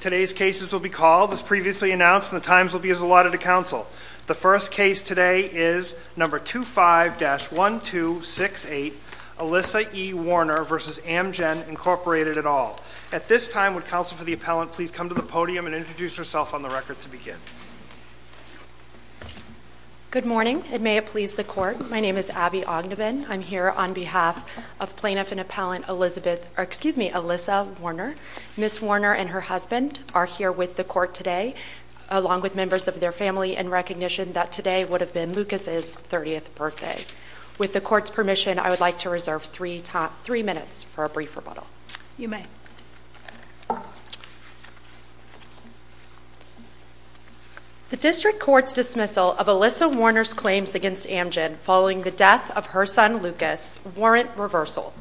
Today's cases will be called, as previously announced, and the times will be as allotted to counsel. The first case today is No. 25-1268, Alyssa E. Warner v. Amgen, Incorporated, et al. At this time, would counsel for the appellant please come to the podium and introduce herself on the record to begin? Good morning, and may it please the Court. My name is Abby Ogdenbin. I'm here on behalf of Plaintiff and Appellant Alyssa Warner. Ms. Warner and her husband are here with the Court today, along with members of their family, in recognition that today would have been Lucas's 30th birthday. With the Court's permission, I would like to reserve three minutes for a brief rebuttal. You may. The District Court's dismissal of Alyssa Warner's claims against Amgen following the death of her son Lucas warrant reversal.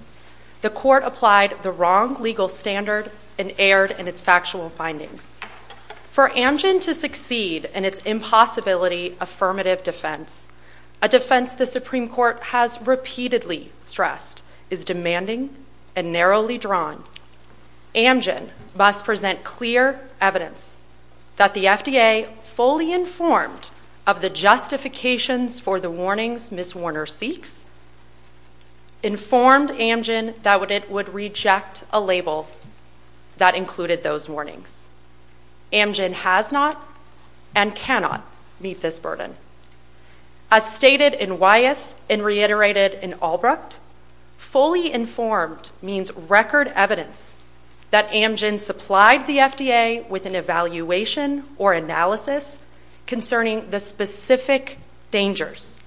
The Court applied the wrong legal standard and erred in its factual findings. For Amgen to succeed in its impossibility affirmative defense, a defense the Supreme Court has repeatedly stressed is demanding and narrowly drawn, Amgen must present clear evidence that the FDA fully informed of the justifications for the warnings Ms. Warner seeks, informed Amgen that it would reject a label that included those warnings. Amgen has not and cannot meet this burden. As stated in Wyeth and reiterated in Albrecht, fully informed means record evidence that Amgen supplied the FDA with an evaluation or analysis concerning the specific dangers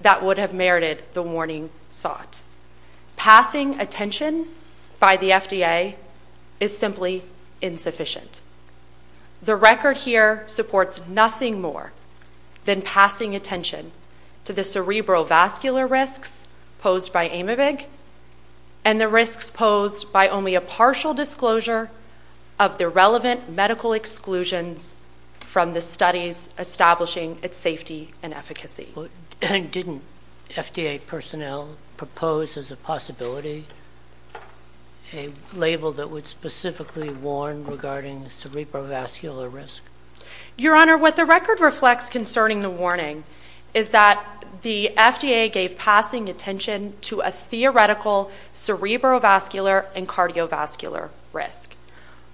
that would have merited the warning sought. Passing attention by the FDA is simply insufficient. The record here supports nothing more than passing attention to the cerebrovascular risks posed by Amavig and the risks posed by only a partial disclosure of the relevant medical exclusions from the studies establishing its safety and efficacy. Didn't FDA personnel propose as a possibility a label that would specifically warn regarding the cerebrovascular risk? Your Honor, what the record reflects concerning the warning is that the FDA gave passing attention to a theoretical cerebrovascular and cardiovascular risk.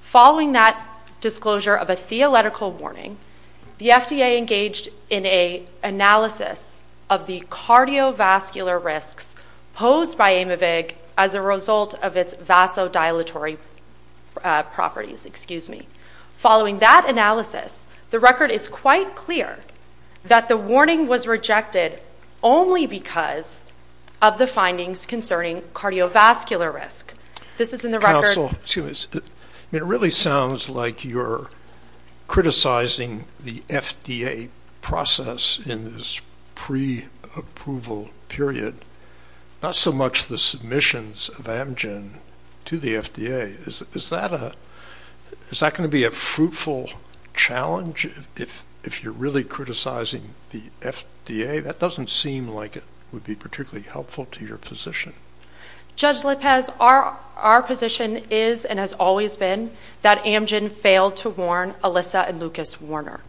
Following that disclosure of a theoretical warning, the FDA engaged in an analysis of the cardiovascular risks posed by Amavig as a result of its vasodilatory properties, excuse me. Following that analysis, the record is quite clear that the warning was rejected only because of the findings concerning cardiovascular risk. This is in the record. Counsel, it really sounds like you're criticizing the FDA process in this pre-approval period, not so much the submissions of Amgen to the FDA. Is that going to be a fruitful challenge if you're really criticizing the FDA? That doesn't seem like it would be particularly helpful to your position. Judge Lopez, our position is and has always been that Amgen failed to warn Alyssa and Lucas Warner.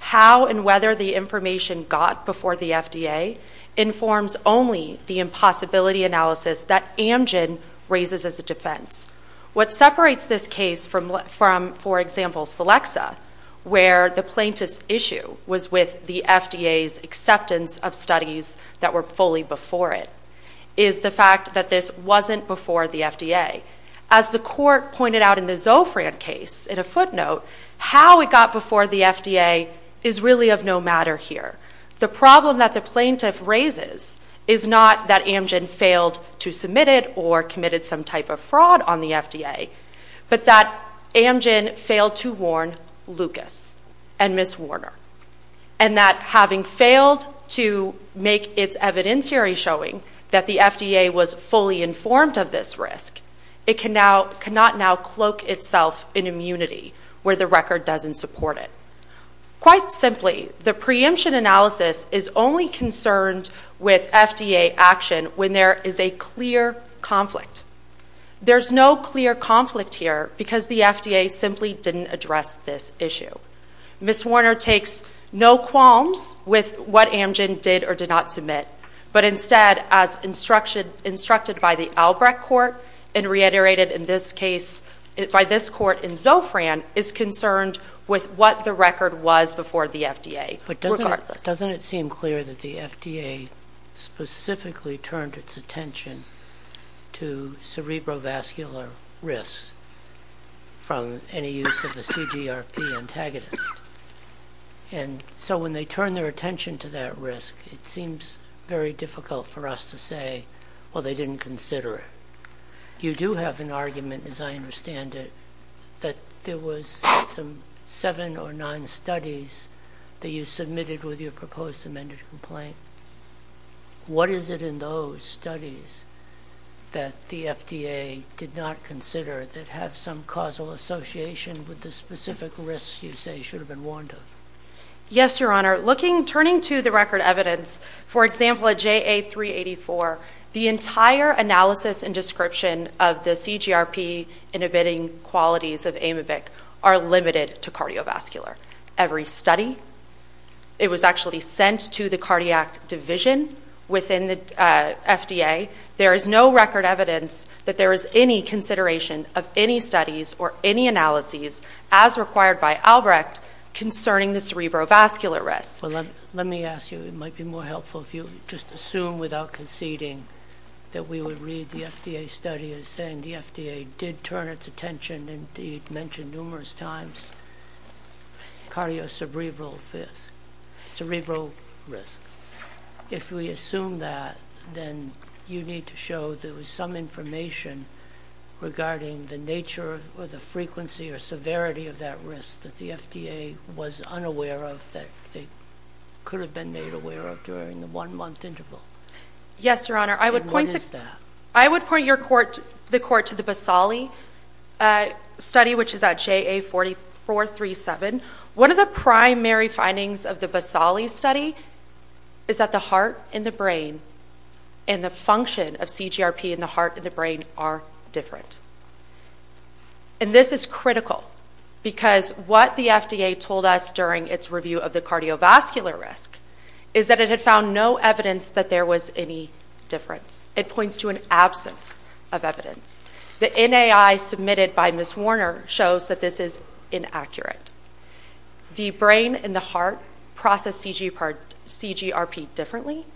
How and whether the information got before the FDA informs only the impossibility analysis that Amgen raises as a defense. What separates this case from, for example, Celexa, where the plaintiff's issue was with the FDA's acceptance of studies that were fully before it, is the fact that this wasn't before the FDA. As the court pointed out in the Zofran case, in a footnote, how it got before the FDA is really of no matter here. The problem that the plaintiff raises is not that Amgen failed to submit it or committed some type of fraud on the FDA, but that Amgen failed to warn Lucas and Miss Warner. And that having failed to make its evidentiary showing that the FDA was fully informed of this risk, it cannot now cloak itself in immunity where the record doesn't support it. Quite simply, the preemption analysis is only concerned with FDA action when there is a clear conflict. There's no clear conflict here because the FDA simply didn't address this issue. Miss Warner takes no qualms with what Amgen did or did not submit. But instead, as instructed by the Albrecht court, and reiterated in this case by this court in Zofran, is concerned with what the record was before the FDA, regardless. Doesn't it seem clear that the FDA specifically turned its attention to cerebrovascular risks from any use of a CGRP antagonist? And so when they turn their attention to that risk, it seems very difficult for us to say, well, they didn't consider it. You do have an argument, as I understand it, that there was some seven or nine studies that you submitted with your proposed amended complaint. And what is it in those studies that the FDA did not consider that have some causal association with the specific risks you say should have been warned of? Yes, Your Honor. Looking, turning to the record evidence, for example, a JA384, the entire analysis and description of the CGRP inhibiting qualities of amoebic are limited to cardiovascular. Every study, it was actually sent to the cardiac division within the FDA. There is no record evidence that there is any consideration of any studies or any analyses, as required by Albrecht, concerning the cerebrovascular risks. Well, let me ask you, it might be more helpful if you just assume without conceding that we would read the FDA study as saying the FDA did turn its attention and did mention numerous times cardiocerebral risk. If we assume that, then you need to show there was some information regarding the nature or the frequency or severity of that risk that the FDA was unaware of that they could have been made aware of during the one-month interval. Yes, Your Honor. And what is that? I would point the court to the Basali study, which is at JA4437. One of the primary findings of the Basali study is that the heart and the brain and the function of CGRP in the heart and the brain are different. And this is critical because what the FDA told us during its review of the cardiovascular risk is that it had found no evidence that there was any difference. It points to an absence of evidence. The NAI submitted by Ms. Warner shows that this is inaccurate. The brain and the heart process CGRP differently.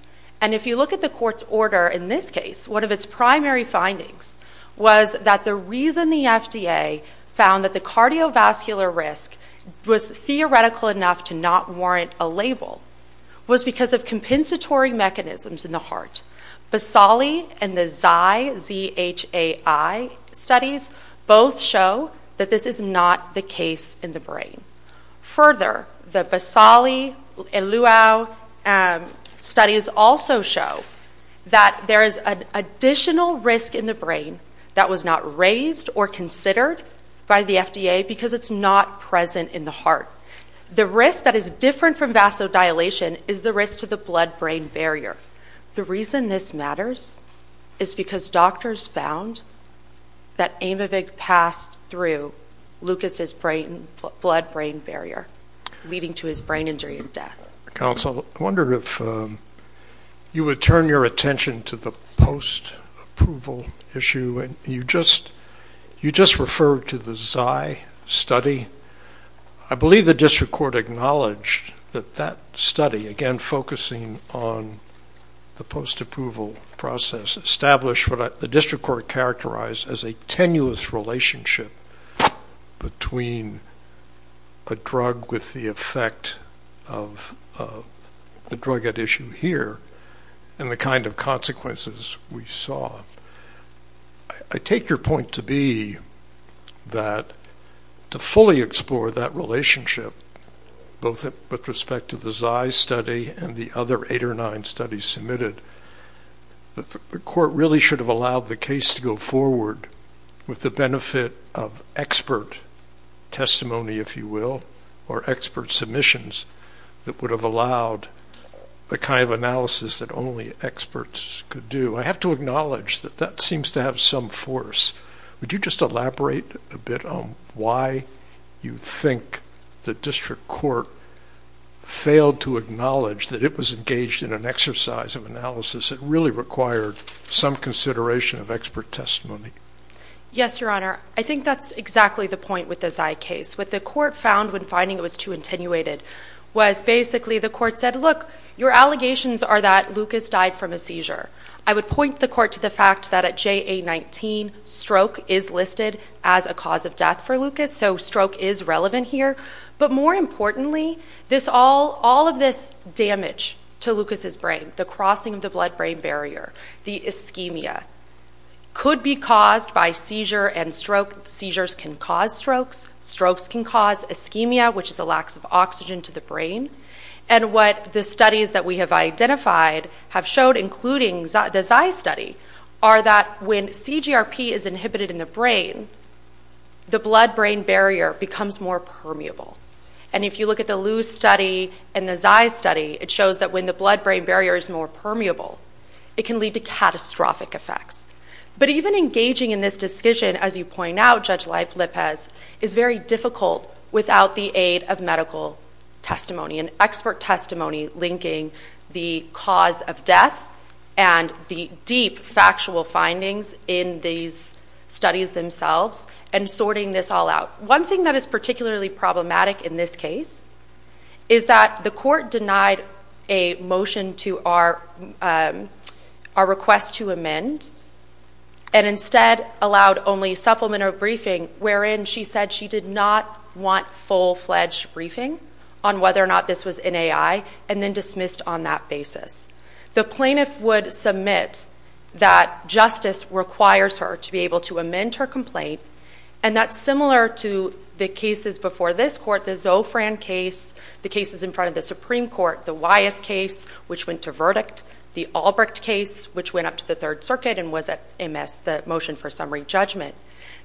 And if you look at the court's order in this case, one of its primary findings was that the reason the FDA found that the cardiovascular risk was theoretical enough to not warrant a label was because of compensatory mechanisms in the heart. Basali and the ZHAI studies both show that this is not the case in the brain. Further, the Basali and Luau studies also show that there is an additional risk in the brain that was not raised or considered by the FDA because it's not present in the heart. The risk that is different from vasodilation is the risk to the blood-brain barrier. The reason this matters is because doctors found that Aymovig passed through Lucas's blood-brain barrier, leading to his brain injury and death. Counsel, I wonder if you would turn your attention to the post-approval issue. You just referred to the ZHAI study. I believe the district court acknowledged that that study, again focusing on the post-approval process, established what the district court characterized as a tenuous relationship between a drug with the effect of the drug at issue here and the kind of consequences we saw. I take your point to be that to fully explore that relationship, both with respect to the ZHAI study and the other eight or nine studies submitted, that the court really should have allowed the case to go forward with the benefit of expert testimony, if you will, or expert submissions that would have allowed the kind of analysis that only experts could do. I have to acknowledge that that seems to have some force. Would you just elaborate a bit on why you think the district court failed to acknowledge that it was engaged in an exercise of analysis that really required some consideration of expert testimony? Yes, Your Honor. I think that's exactly the point with the ZHAI case. What the court found when finding it was too attenuated was basically the court said, look, your allegations are that Lucas died from a seizure. I would point the court to the fact that at JA-19, stroke is listed as a cause of death for Lucas, so stroke is relevant here. But more importantly, all of this damage to Lucas's brain, the crossing of the blood-brain barrier, the ischemia, could be caused by seizure and stroke. Seizures can cause strokes. Strokes can cause ischemia, which is a lax of oxygen to the brain. And what the studies that we have identified have showed, including the ZHAI study, are that when CGRP is inhibited in the brain, the blood-brain barrier becomes more permeable. And if you look at the LUZ study and the ZHAI study, it shows that when the blood-brain barrier is more permeable, it can lead to catastrophic effects. But even engaging in this discussion, as you point out, Judge Leif-Lippez, is very difficult without the aid of medical testimony and expert testimony linking the cause of death and the deep factual findings in these studies themselves and sorting this all out. One thing that is particularly problematic in this case is that the court denied a motion to our request to amend and instead allowed only supplementary briefing wherein she said she did not want full-fledged briefing on whether or not this was NAI and then dismissed on that basis. The plaintiff would submit that justice requires her to be able to amend her complaint and that's similar to the cases before this court, the Zofran case, the cases in front of the Supreme Court, the Wyeth case, which went to verdict, the Albrecht case, which went up to the Third Circuit and was at MS, the motion for summary judgment.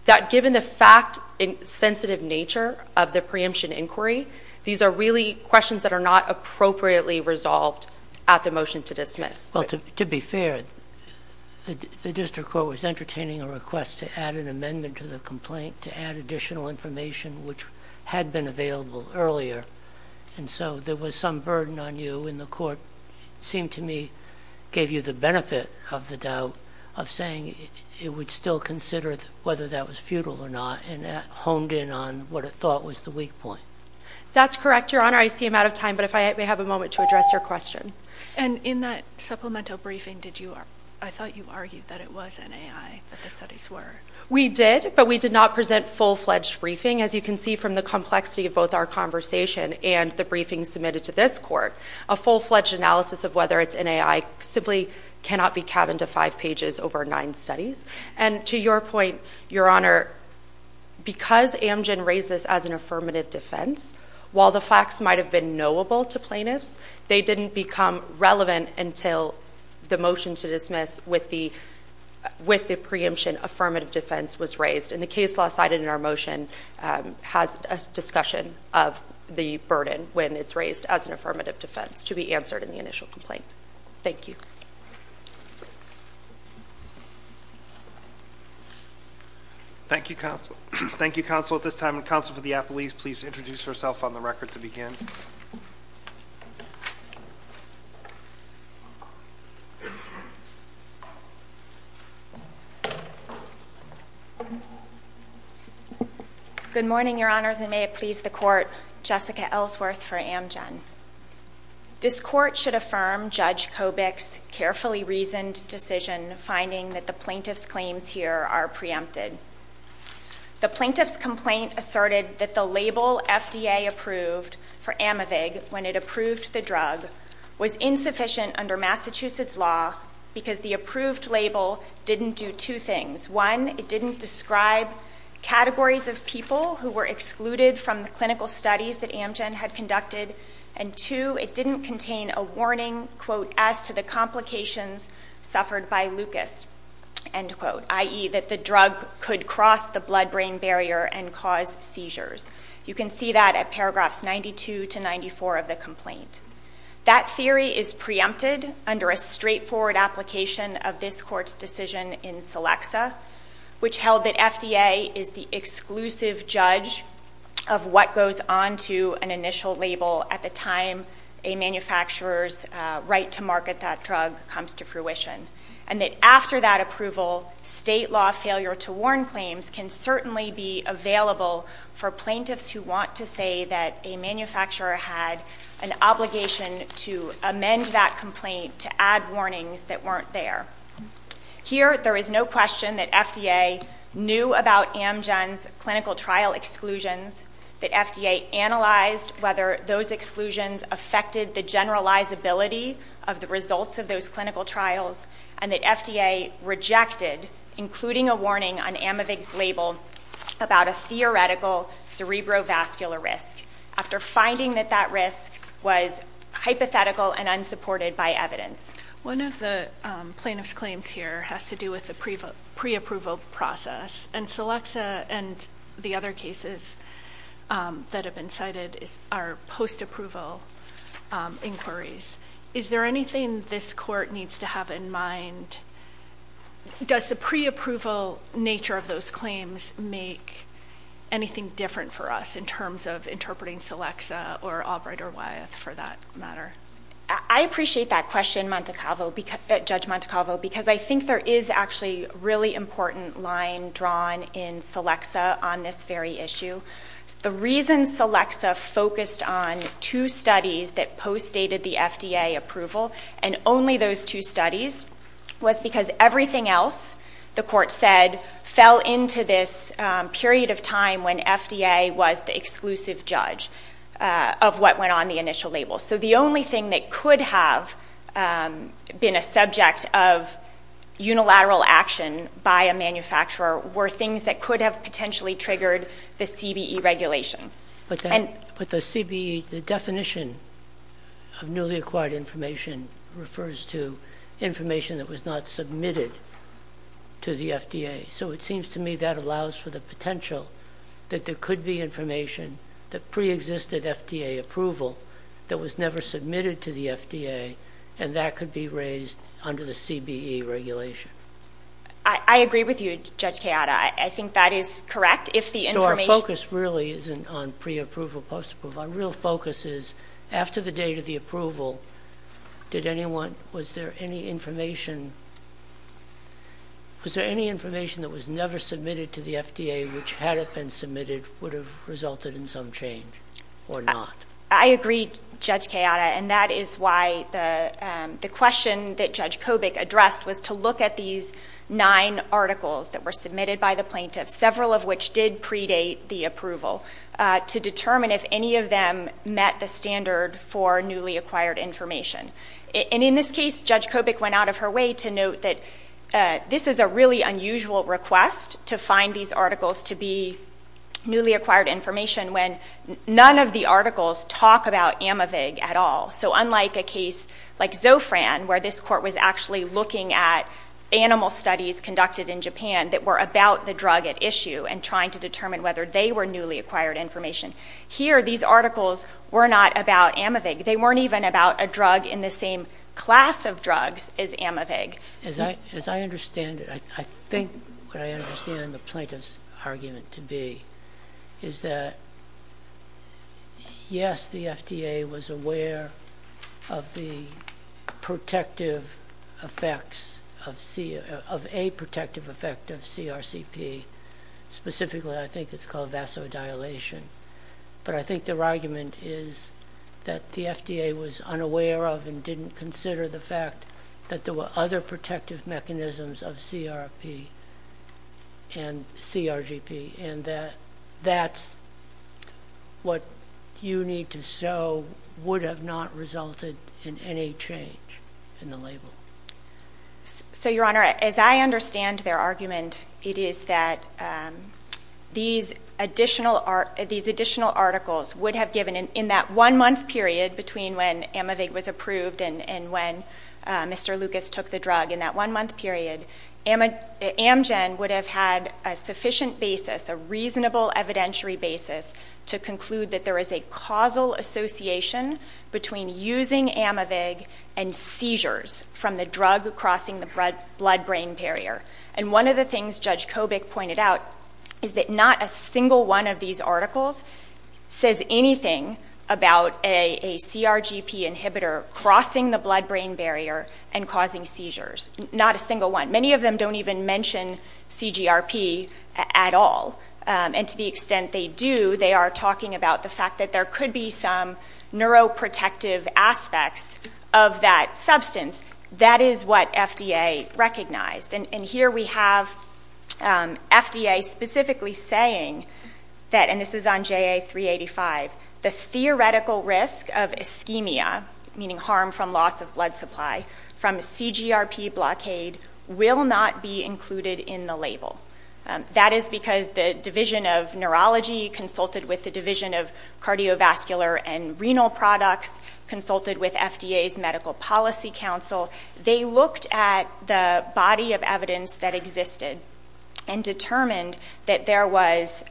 That given the fact and sensitive nature of the preemption inquiry, these are really questions that are not appropriately resolved at the motion to dismiss. Well, to be fair, the district court was entertaining a request to add an amendment to the complaint to add additional information which had been available earlier and so there was some burden on you and the court seemed to me gave you the benefit of the doubt of saying it would still consider whether that was futile or not and honed in on what it thought was the weak point. That's correct, Your Honor. I see I'm out of time, but if I may have a moment to address your question. In that supplemental briefing, I thought you argued that it was NAI that the studies were. We did, but we did not present full-fledged briefing. As you can see from the complexity of both our conversation and the briefing submitted to this court, a full-fledged analysis of whether it's NAI simply cannot be cabined to five pages over nine studies. And to your point, Your Honor, because Amgen raised this as an affirmative defense, while the facts might have been knowable to plaintiffs, they didn't become relevant until the motion to dismiss with the preemption affirmative defense was raised and the case law cited in our motion has a discussion of the burden when it's raised as an affirmative defense to be answered in the initial complaint. Thank you. Thank you, counsel. Thank you, counsel, at this time. And counsel for the apologies, please introduce herself on the record to begin. Good morning, Your Honors, and may it please the court, Jessica Ellsworth for Amgen. This court should affirm Judge Kobik's carefully reasoned decision finding that the plaintiff's claims here are preempted. The plaintiff's complaint asserted that the label FDA approved for Amavig when it approved the drug was insufficient under Massachusetts law because the approved label didn't do two things. One, it didn't describe categories of people who were excluded from the clinical studies that Amgen had conducted, and two, it didn't contain a warning, quote, as to the complications suffered by Lucas, end quote, i.e. that the drug could cross the blood-brain barrier and cause seizures. You can see that at paragraphs 92 to 94 of the complaint. That theory is preempted under a straightforward application of this court's decision in Selexa, which held that FDA is the exclusive judge of what goes on to an initial label at the time a manufacturer's right to market that drug comes to fruition. And that after that approval, state law failure to warn claims can certainly be available for plaintiffs who want to say that a manufacturer had an obligation to amend that complaint to add warnings that weren't there. Here, there is no question that FDA knew about Amgen's clinical trial exclusions, that FDA analyzed whether those exclusions affected the generalizability of the results of those clinical trials, and that FDA rejected including a warning on Amavig's label about a theoretical cerebrovascular risk after finding that that risk was hypothetical and unsupported by evidence. One of the plaintiff's claims here has to do with the pre-approval process, and Selexa and the other cases that have been cited are post-approval inquiries. Is there anything this court needs to have in mind? Does the pre-approval nature of those claims make anything different for us in terms of interpreting Selexa or Albright or Wyeth for that matter? I appreciate that question, Judge Montecalvo, because I think there is actually a really important line drawn in Selexa on this very issue. The reason Selexa focused on two studies that post-stated the FDA approval and only those two studies was because everything else the court said fell into this period of time when FDA was the exclusive judge of what went on the initial label. So the only thing that could have been a subject of unilateral action by a manufacturer were things that could have potentially triggered the CBE regulation. But the CBE, the definition of newly acquired information refers to information that was not submitted to the FDA, so it seems to me that allows for the potential that there could be information, the pre-existed FDA approval, that was never submitted to the FDA and that could be raised under the CBE regulation. I agree with you, Judge Chiata. I think that is correct if the information— So our focus really isn't on pre-approval, post-approval. Our real focus is after the date of the approval, was there any information that was never submitted to the FDA which had it been submitted would have resulted in some change or not? I agree, Judge Chiata, and that is why the question that Judge Kobik addressed was to look at these nine articles that were submitted by the plaintiffs, several of which did predate the approval, to determine if any of them met the standard for newly acquired information. In this case, Judge Kobik went out of her way to note that this is a really unusual request to find these articles to be newly acquired information when none of the articles talk about Amivig at all. So unlike a case like Zofran, where this court was actually looking at animal studies conducted in Japan that were about the drug at issue and trying to determine whether they were newly acquired information, here these articles were not about Amivig. They weren't even about a drug in the same class of drugs as Amivig. As I understand it, I think what I understand the plaintiff's argument to be is that yes, the FDA was aware of the protective effects of a protective effect of CRCP, specifically I think it's called vasodilation, but I think their argument is that the FDA was unaware of and didn't consider the fact that there were other protective mechanisms of CRP and CRGP, and that that's what you need to show would have not resulted in any change in the label. So, Your Honor, as I understand their argument, it is that these additional articles would have given, in that one-month period between when Amivig was approved and when Mr. Lucas took the drug, in that one-month period, Amgen would have had a sufficient basis, a reasonable evidentiary basis, to conclude that there is a causal association between using Amivig and seizures from the drug crossing the blood-brain barrier. And one of the things Judge Kobik pointed out is that not a single one of these articles says anything about a CRGP inhibitor crossing the blood-brain barrier and causing seizures. Not a single one. Many of them don't even mention CGRP at all, and to the extent they do, they are talking about the fact that there could be some neuroprotective aspects of that substance. That is what FDA recognized. And here we have FDA specifically saying that, and this is on JA385, the theoretical risk of ischemia, meaning harm from loss of blood supply, from a CGRP blockade will not be included in the label. That is because the Division of Neurology consulted with the Division of Cardiovascular and Renal Products, consulted with FDA's Medical Policy Council. They looked at the body of evidence that existed and determined that there was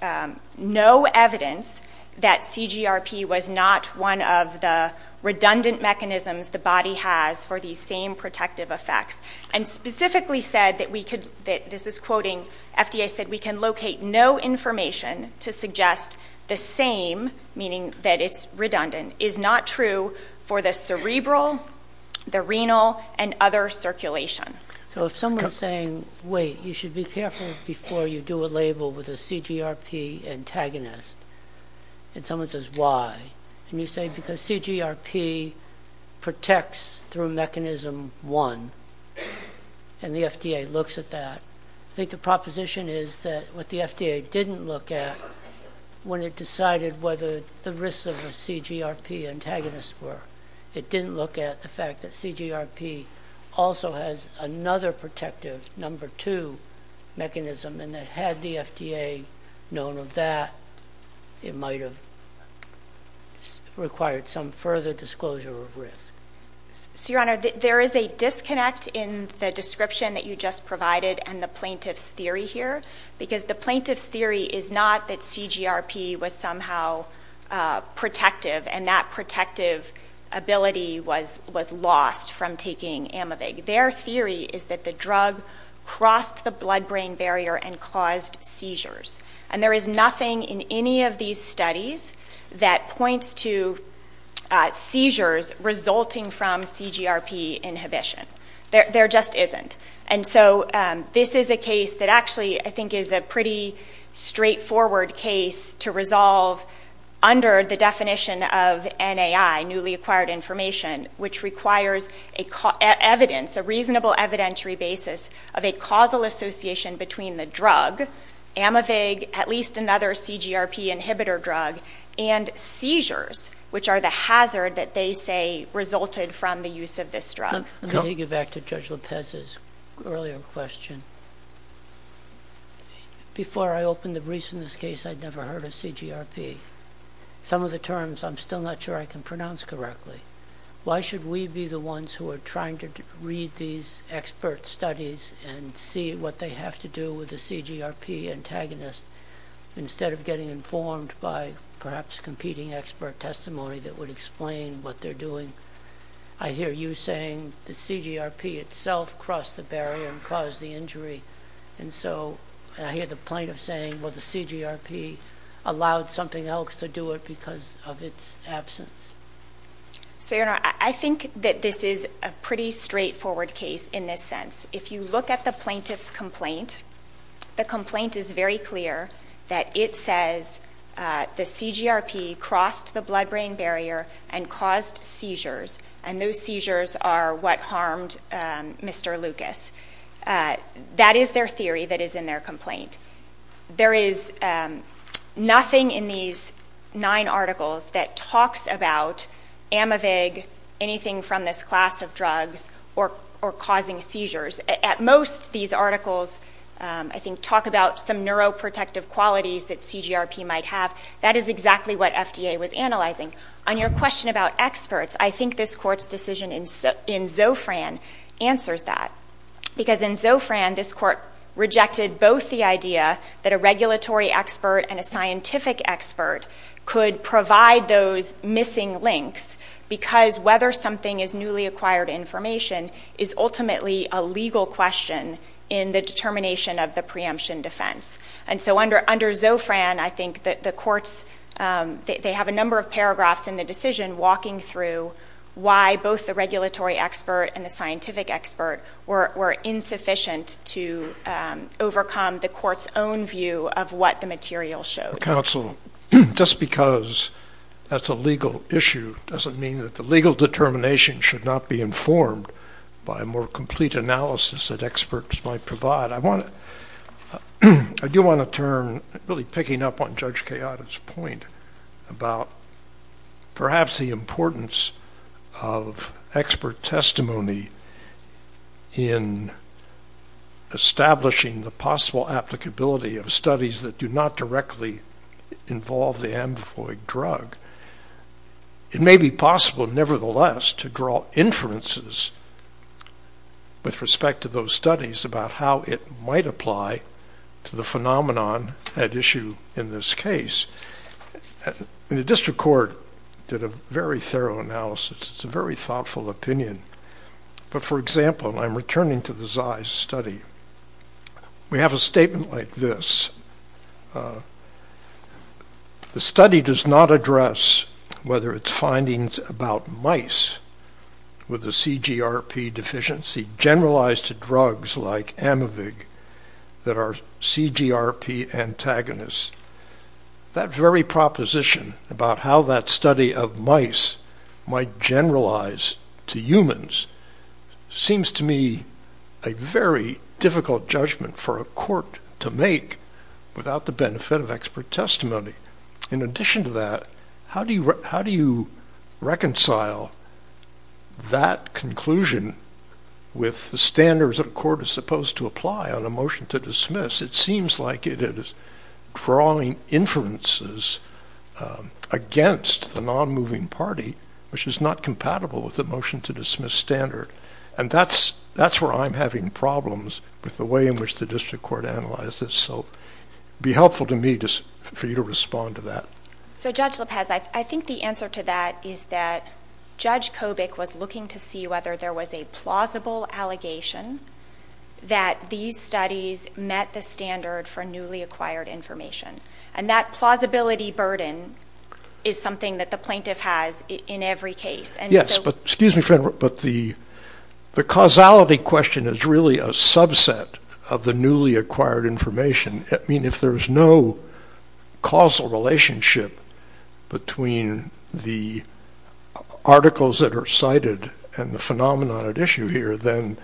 no evidence that CGRP was not one of the redundant mechanisms the body has for these same protective effects. And specifically said that we could, this is quoting, FDA said we can locate no information to suggest the same, meaning that it's redundant, is not true for the cerebral, the renal, and other circulation. So if someone is saying, wait, you should be careful before you do a label with a CGRP antagonist, and someone says why, and you say because CGRP protects through mechanism one, and the FDA looks at that, I think the proposition is that what the FDA didn't look at when it decided whether the risks of a CGRP antagonist were, it didn't look at the fact that CGRP also has another protective, number two mechanism, and that had the FDA known of that, it might have required some further disclosure of risk. So, Your Honor, there is a disconnect in the description that you just provided and the plaintiff's theory here, because the plaintiff's theory is not that CGRP was somehow protective, and that protective ability was lost from taking Amivig. Their theory is that the drug crossed the blood-brain barrier and caused seizures. And there is nothing in any of these studies that points to seizures resulting from CGRP inhibition. There just isn't. And so this is a case that actually I think is a pretty straightforward case to resolve under the definition of NAI, newly acquired information, which requires evidence, a reasonable evidentiary basis of a causal association between the drug, Amivig, at least another CGRP inhibitor drug, and seizures, which are the hazard that they say resulted from the use of this drug. Let me take you back to Judge Lopez's earlier question. Before I open the briefs in this case, I'd never heard of CGRP. Some of the terms, I'm still not sure I can pronounce correctly. Why should we be the ones who are trying to read these expert studies and see what they have to do with the CGRP antagonist instead of getting informed by perhaps competing expert testimony that would explain what they're doing? I hear you saying the CGRP itself crossed the barrier and caused the injury. And so I hear the plaintiff saying, well, the CGRP allowed something else to do it because of its absence. So, Your Honor, I think that this is a pretty straightforward case in this sense. If you look at the plaintiff's complaint, the complaint is very clear that it says the CGRP crossed the blood-brain barrier and caused seizures. And those seizures are what harmed Mr. Lucas. That is their theory that is in their complaint. There is nothing in these nine articles that talks about amavig, anything from this class of drugs, or causing seizures. At most, these articles, I think, talk about some neuroprotective qualities that CGRP might have. That is exactly what FDA was analyzing. On your question about experts, I think this Court's decision in Zofran answers that. Because in Zofran, this Court rejected both the idea that a regulatory expert and a scientific expert could provide those missing links because whether something is newly acquired information is ultimately a legal question in the determination of the preemption defense. And so under Zofran, I think that the courts, they have a number of paragraphs in the decision walking through why both the regulatory expert and the scientific expert were insufficient to overcome the court's own view of what the material showed. Counsel, just because that's a legal issue doesn't mean that the legal determination should not be informed by a more complete analysis that experts might provide. I do want to turn, really picking up on Judge Kayada's point about perhaps the importance of expert testimony in establishing the possible applicability of studies that do not directly involve the amavig drug. It may be possible, nevertheless, to draw inferences with respect to those studies about how it might apply to the phenomenon at issue in this case. The district court did a very thorough analysis. It's a very thoughtful opinion. But for example, I'm returning to the ZEIS study. We have a statement like this. The study does not address whether its findings about mice with a CGRP deficiency generalized to drugs like amavig that are CGRP antagonists. That very proposition about how that study of mice might generalize to humans seems to me a very difficult judgment for a court to make without the benefit of expert testimony. In addition to that, how do you reconcile that conclusion with the standards that a court is supposed to apply on a motion to dismiss? It seems like it is drawing inferences against the non-moving party, which is not compatible with the motion to dismiss standard. And that's where I'm having problems with the way in which the district court analyzes. So it would be helpful to me for you to respond to that. So Judge Lopez, I think the answer to that is that Judge Kobik was looking to see whether there was a plausible allegation that these studies met the standard for newly acquired information. And that plausibility burden is something that the plaintiff has in every case. Excuse me, but the causality question is really a subset of the newly acquired information. If there's no causal relationship between the articles that are cited and the phenomenon at issue here, then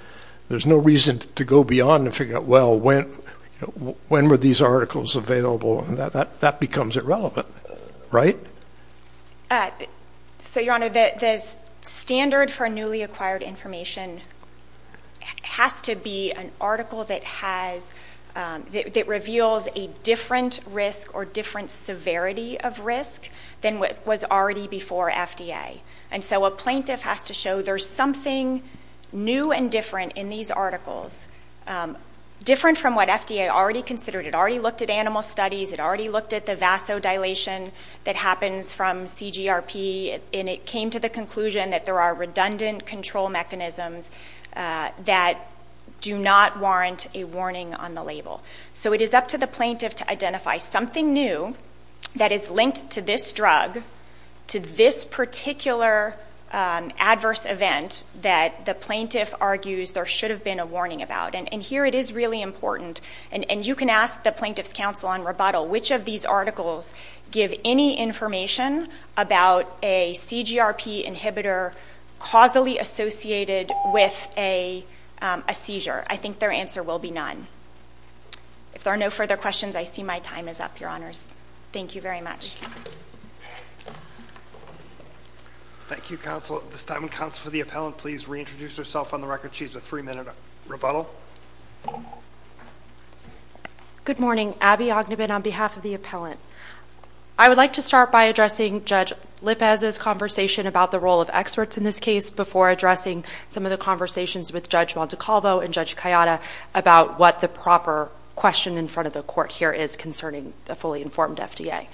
there's no reason to go beyond and figure out, well, when were these articles available? That becomes irrelevant, right? So, Your Honor, the standard for newly acquired information has to be an article that reveals a different risk or different severity of risk than what was already before FDA. And so a plaintiff has to show there's something new and different in these articles, different from what FDA already considered. It already looked at animal studies. It already looked at the vasodilation that happens from CGRP. And it came to the conclusion that there are redundant control mechanisms that do not warrant a warning on the label. So it is up to the plaintiff to identify something new that is linked to this drug, to this particular adverse event that the plaintiff argues there should have been a warning about. And here it is really important. And you can ask the Plaintiff's Counsel on rebuttal, which of these articles give any information about a CGRP inhibitor causally associated with a seizure? I think their answer will be none. If there are no further questions, I see my time is up, Your Honors. Thank you very much. Thank you. Thank you, Counsel. At this time, would Counsel for the Appellant please reintroduce herself on the record? She has a three-minute rebuttal. Good morning. Abby Ognebin on behalf of the Appellant. I would like to start by addressing Judge Lippez's conversation about the role of experts in this case before addressing some of the conversations with Judge Montecalvo and Judge Kayada about what the proper question in front of the Court here is concerning the fully informed FDA.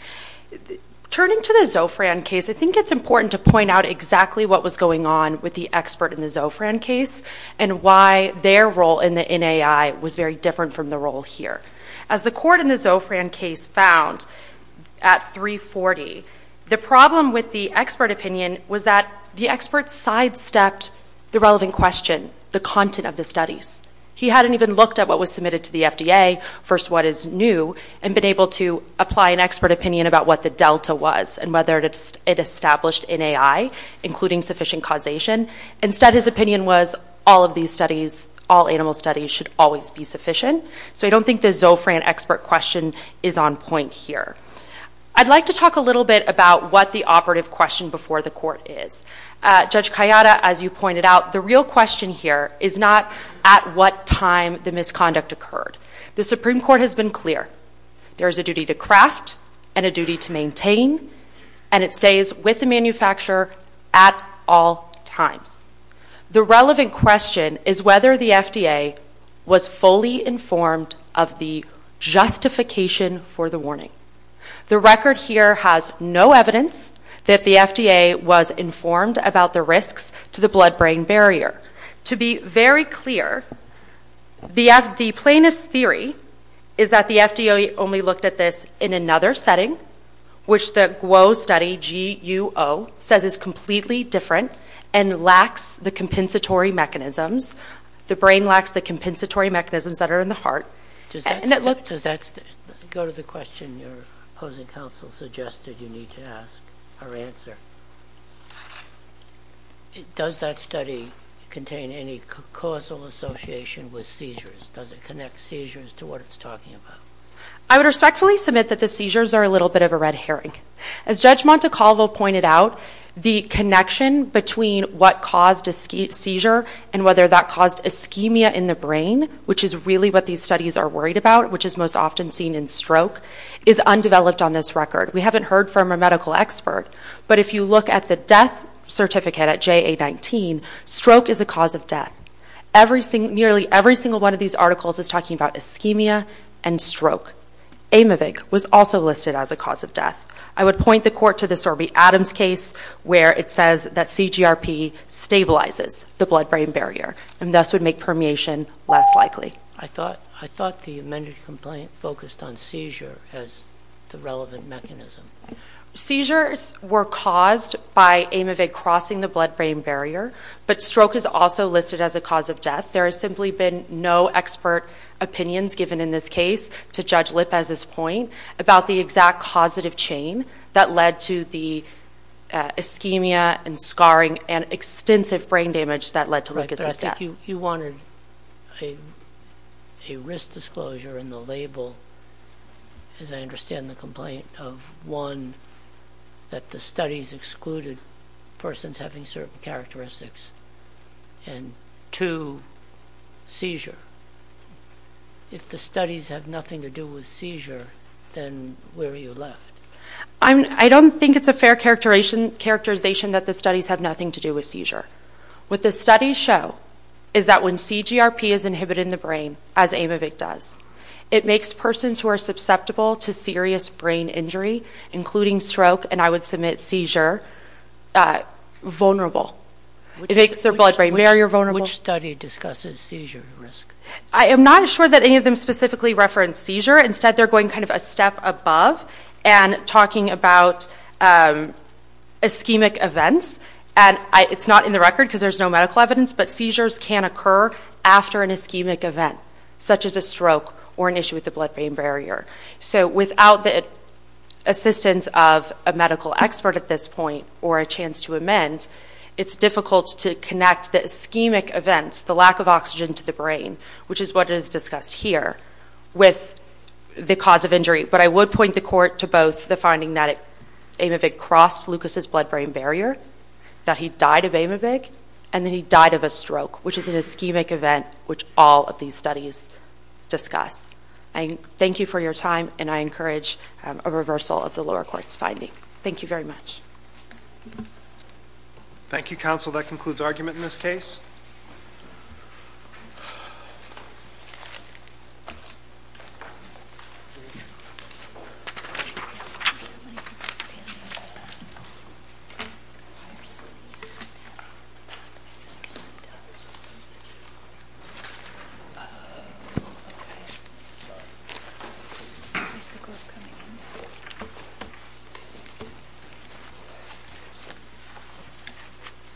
Turning to the Zofran case, I think it's important to point out exactly what was going on with the expert in the Zofran case and why their role in the NAI was very different from the role here. As the Court in the Zofran case found at 340, the problem with the expert opinion was that the expert sidestepped the relevant question, the content of the studies. He hadn't even looked at what was submitted to the FDA, first what is new, and been able to apply an expert opinion about what the delta was and whether it established NAI, including sufficient causation. Instead, his opinion was all of these studies, all animal studies should always be sufficient. So I don't think the Zofran expert question is on point here. I'd like to talk a little bit about what the operative question before the Court is. Judge Kayada, as you pointed out, the real question here is not at what time the misconduct occurred. The Supreme Court has been clear. There is a duty to craft and a duty to maintain, and it stays with the manufacturer at all times. The relevant question is whether the FDA was fully informed of the justification for the warning. The record here has no evidence that the FDA was informed about the risks to the blood-brain barrier. To be very clear, the plaintiff's theory is that the FDA only looked at this in another setting, which the GWO study, G-U-O, says is completely different and lacks the compensatory mechanisms. The brain lacks the compensatory mechanisms that are in the heart, and it looked Does that go to the question your opposing counsel suggested you need to ask or answer? Does that study contain any causal association with seizures? Does it connect seizures to what it's talking about? I would respectfully submit that the seizures are a little bit of a red herring. As Judge Montecalvo pointed out, the connection between what caused a seizure and whether that caused ischemia in the brain, which is really what these studies are worried about, which is most often seen in stroke, is undeveloped on this record. We haven't heard from a medical expert, but if you look at the death certificate at JA-19, stroke is a cause of death. Nearly every single one of these articles is talking about ischemia and stroke. Aymovig was also listed as a cause of death. I would point the Court to the Sorby-Adams case where it says that CGRP stabilizes the blood-brain barrier and thus would make permeation less likely. I thought the amended complaint focused on seizure as the relevant mechanism. Seizures were caused by Aymovig crossing the blood-brain barrier, but stroke is also listed as a cause of death. There has simply been no expert opinions given in this case to Judge Lippes's point about the exact causative chain that led to the ischemia and scarring and extensive brain damage that led to Lucas's death. You wanted a risk disclosure in the label, as I understand the complaint, of one, that the studies excluded persons having certain characteristics, and two, seizure. If the studies have nothing to do with seizure, then where are you left? I don't think it's a fair characterization that the studies have nothing to do with seizure. What the studies show is that when CGRP is inhibited in the brain, as Aymovig does, it makes persons who are susceptible to serious brain injury, including stroke, and I would submit seizure, vulnerable. It makes their blood-brain barrier vulnerable. Which study discusses seizure risk? I am not sure that any of them specifically reference seizure. Instead, they're going kind of a step above and talking about ischemic events. And it's not in the record because there's no medical evidence, but seizures can occur after an ischemic event, such as a stroke or an issue with the blood-brain barrier. So without the assistance of a medical expert at this point, or a chance to amend, it's difficult to connect the ischemic events, the lack of oxygen to the brain, which is what is discussed here, with the cause of injury. But I would point the court to both the finding that Aymovig crossed Lucas's blood-brain barrier, that he died of Aymovig, and that he died of a stroke, which is an ischemic event, which all of these studies discuss. Thank you for your time, and I encourage a reversal of the lower court's finding. Thank you very much. Thank you, counsel. That concludes argument in this case. Why are you leaving me standing? I'm not going to look at the dust. I'm going to look at you. Oh, okay. I think we're coming in.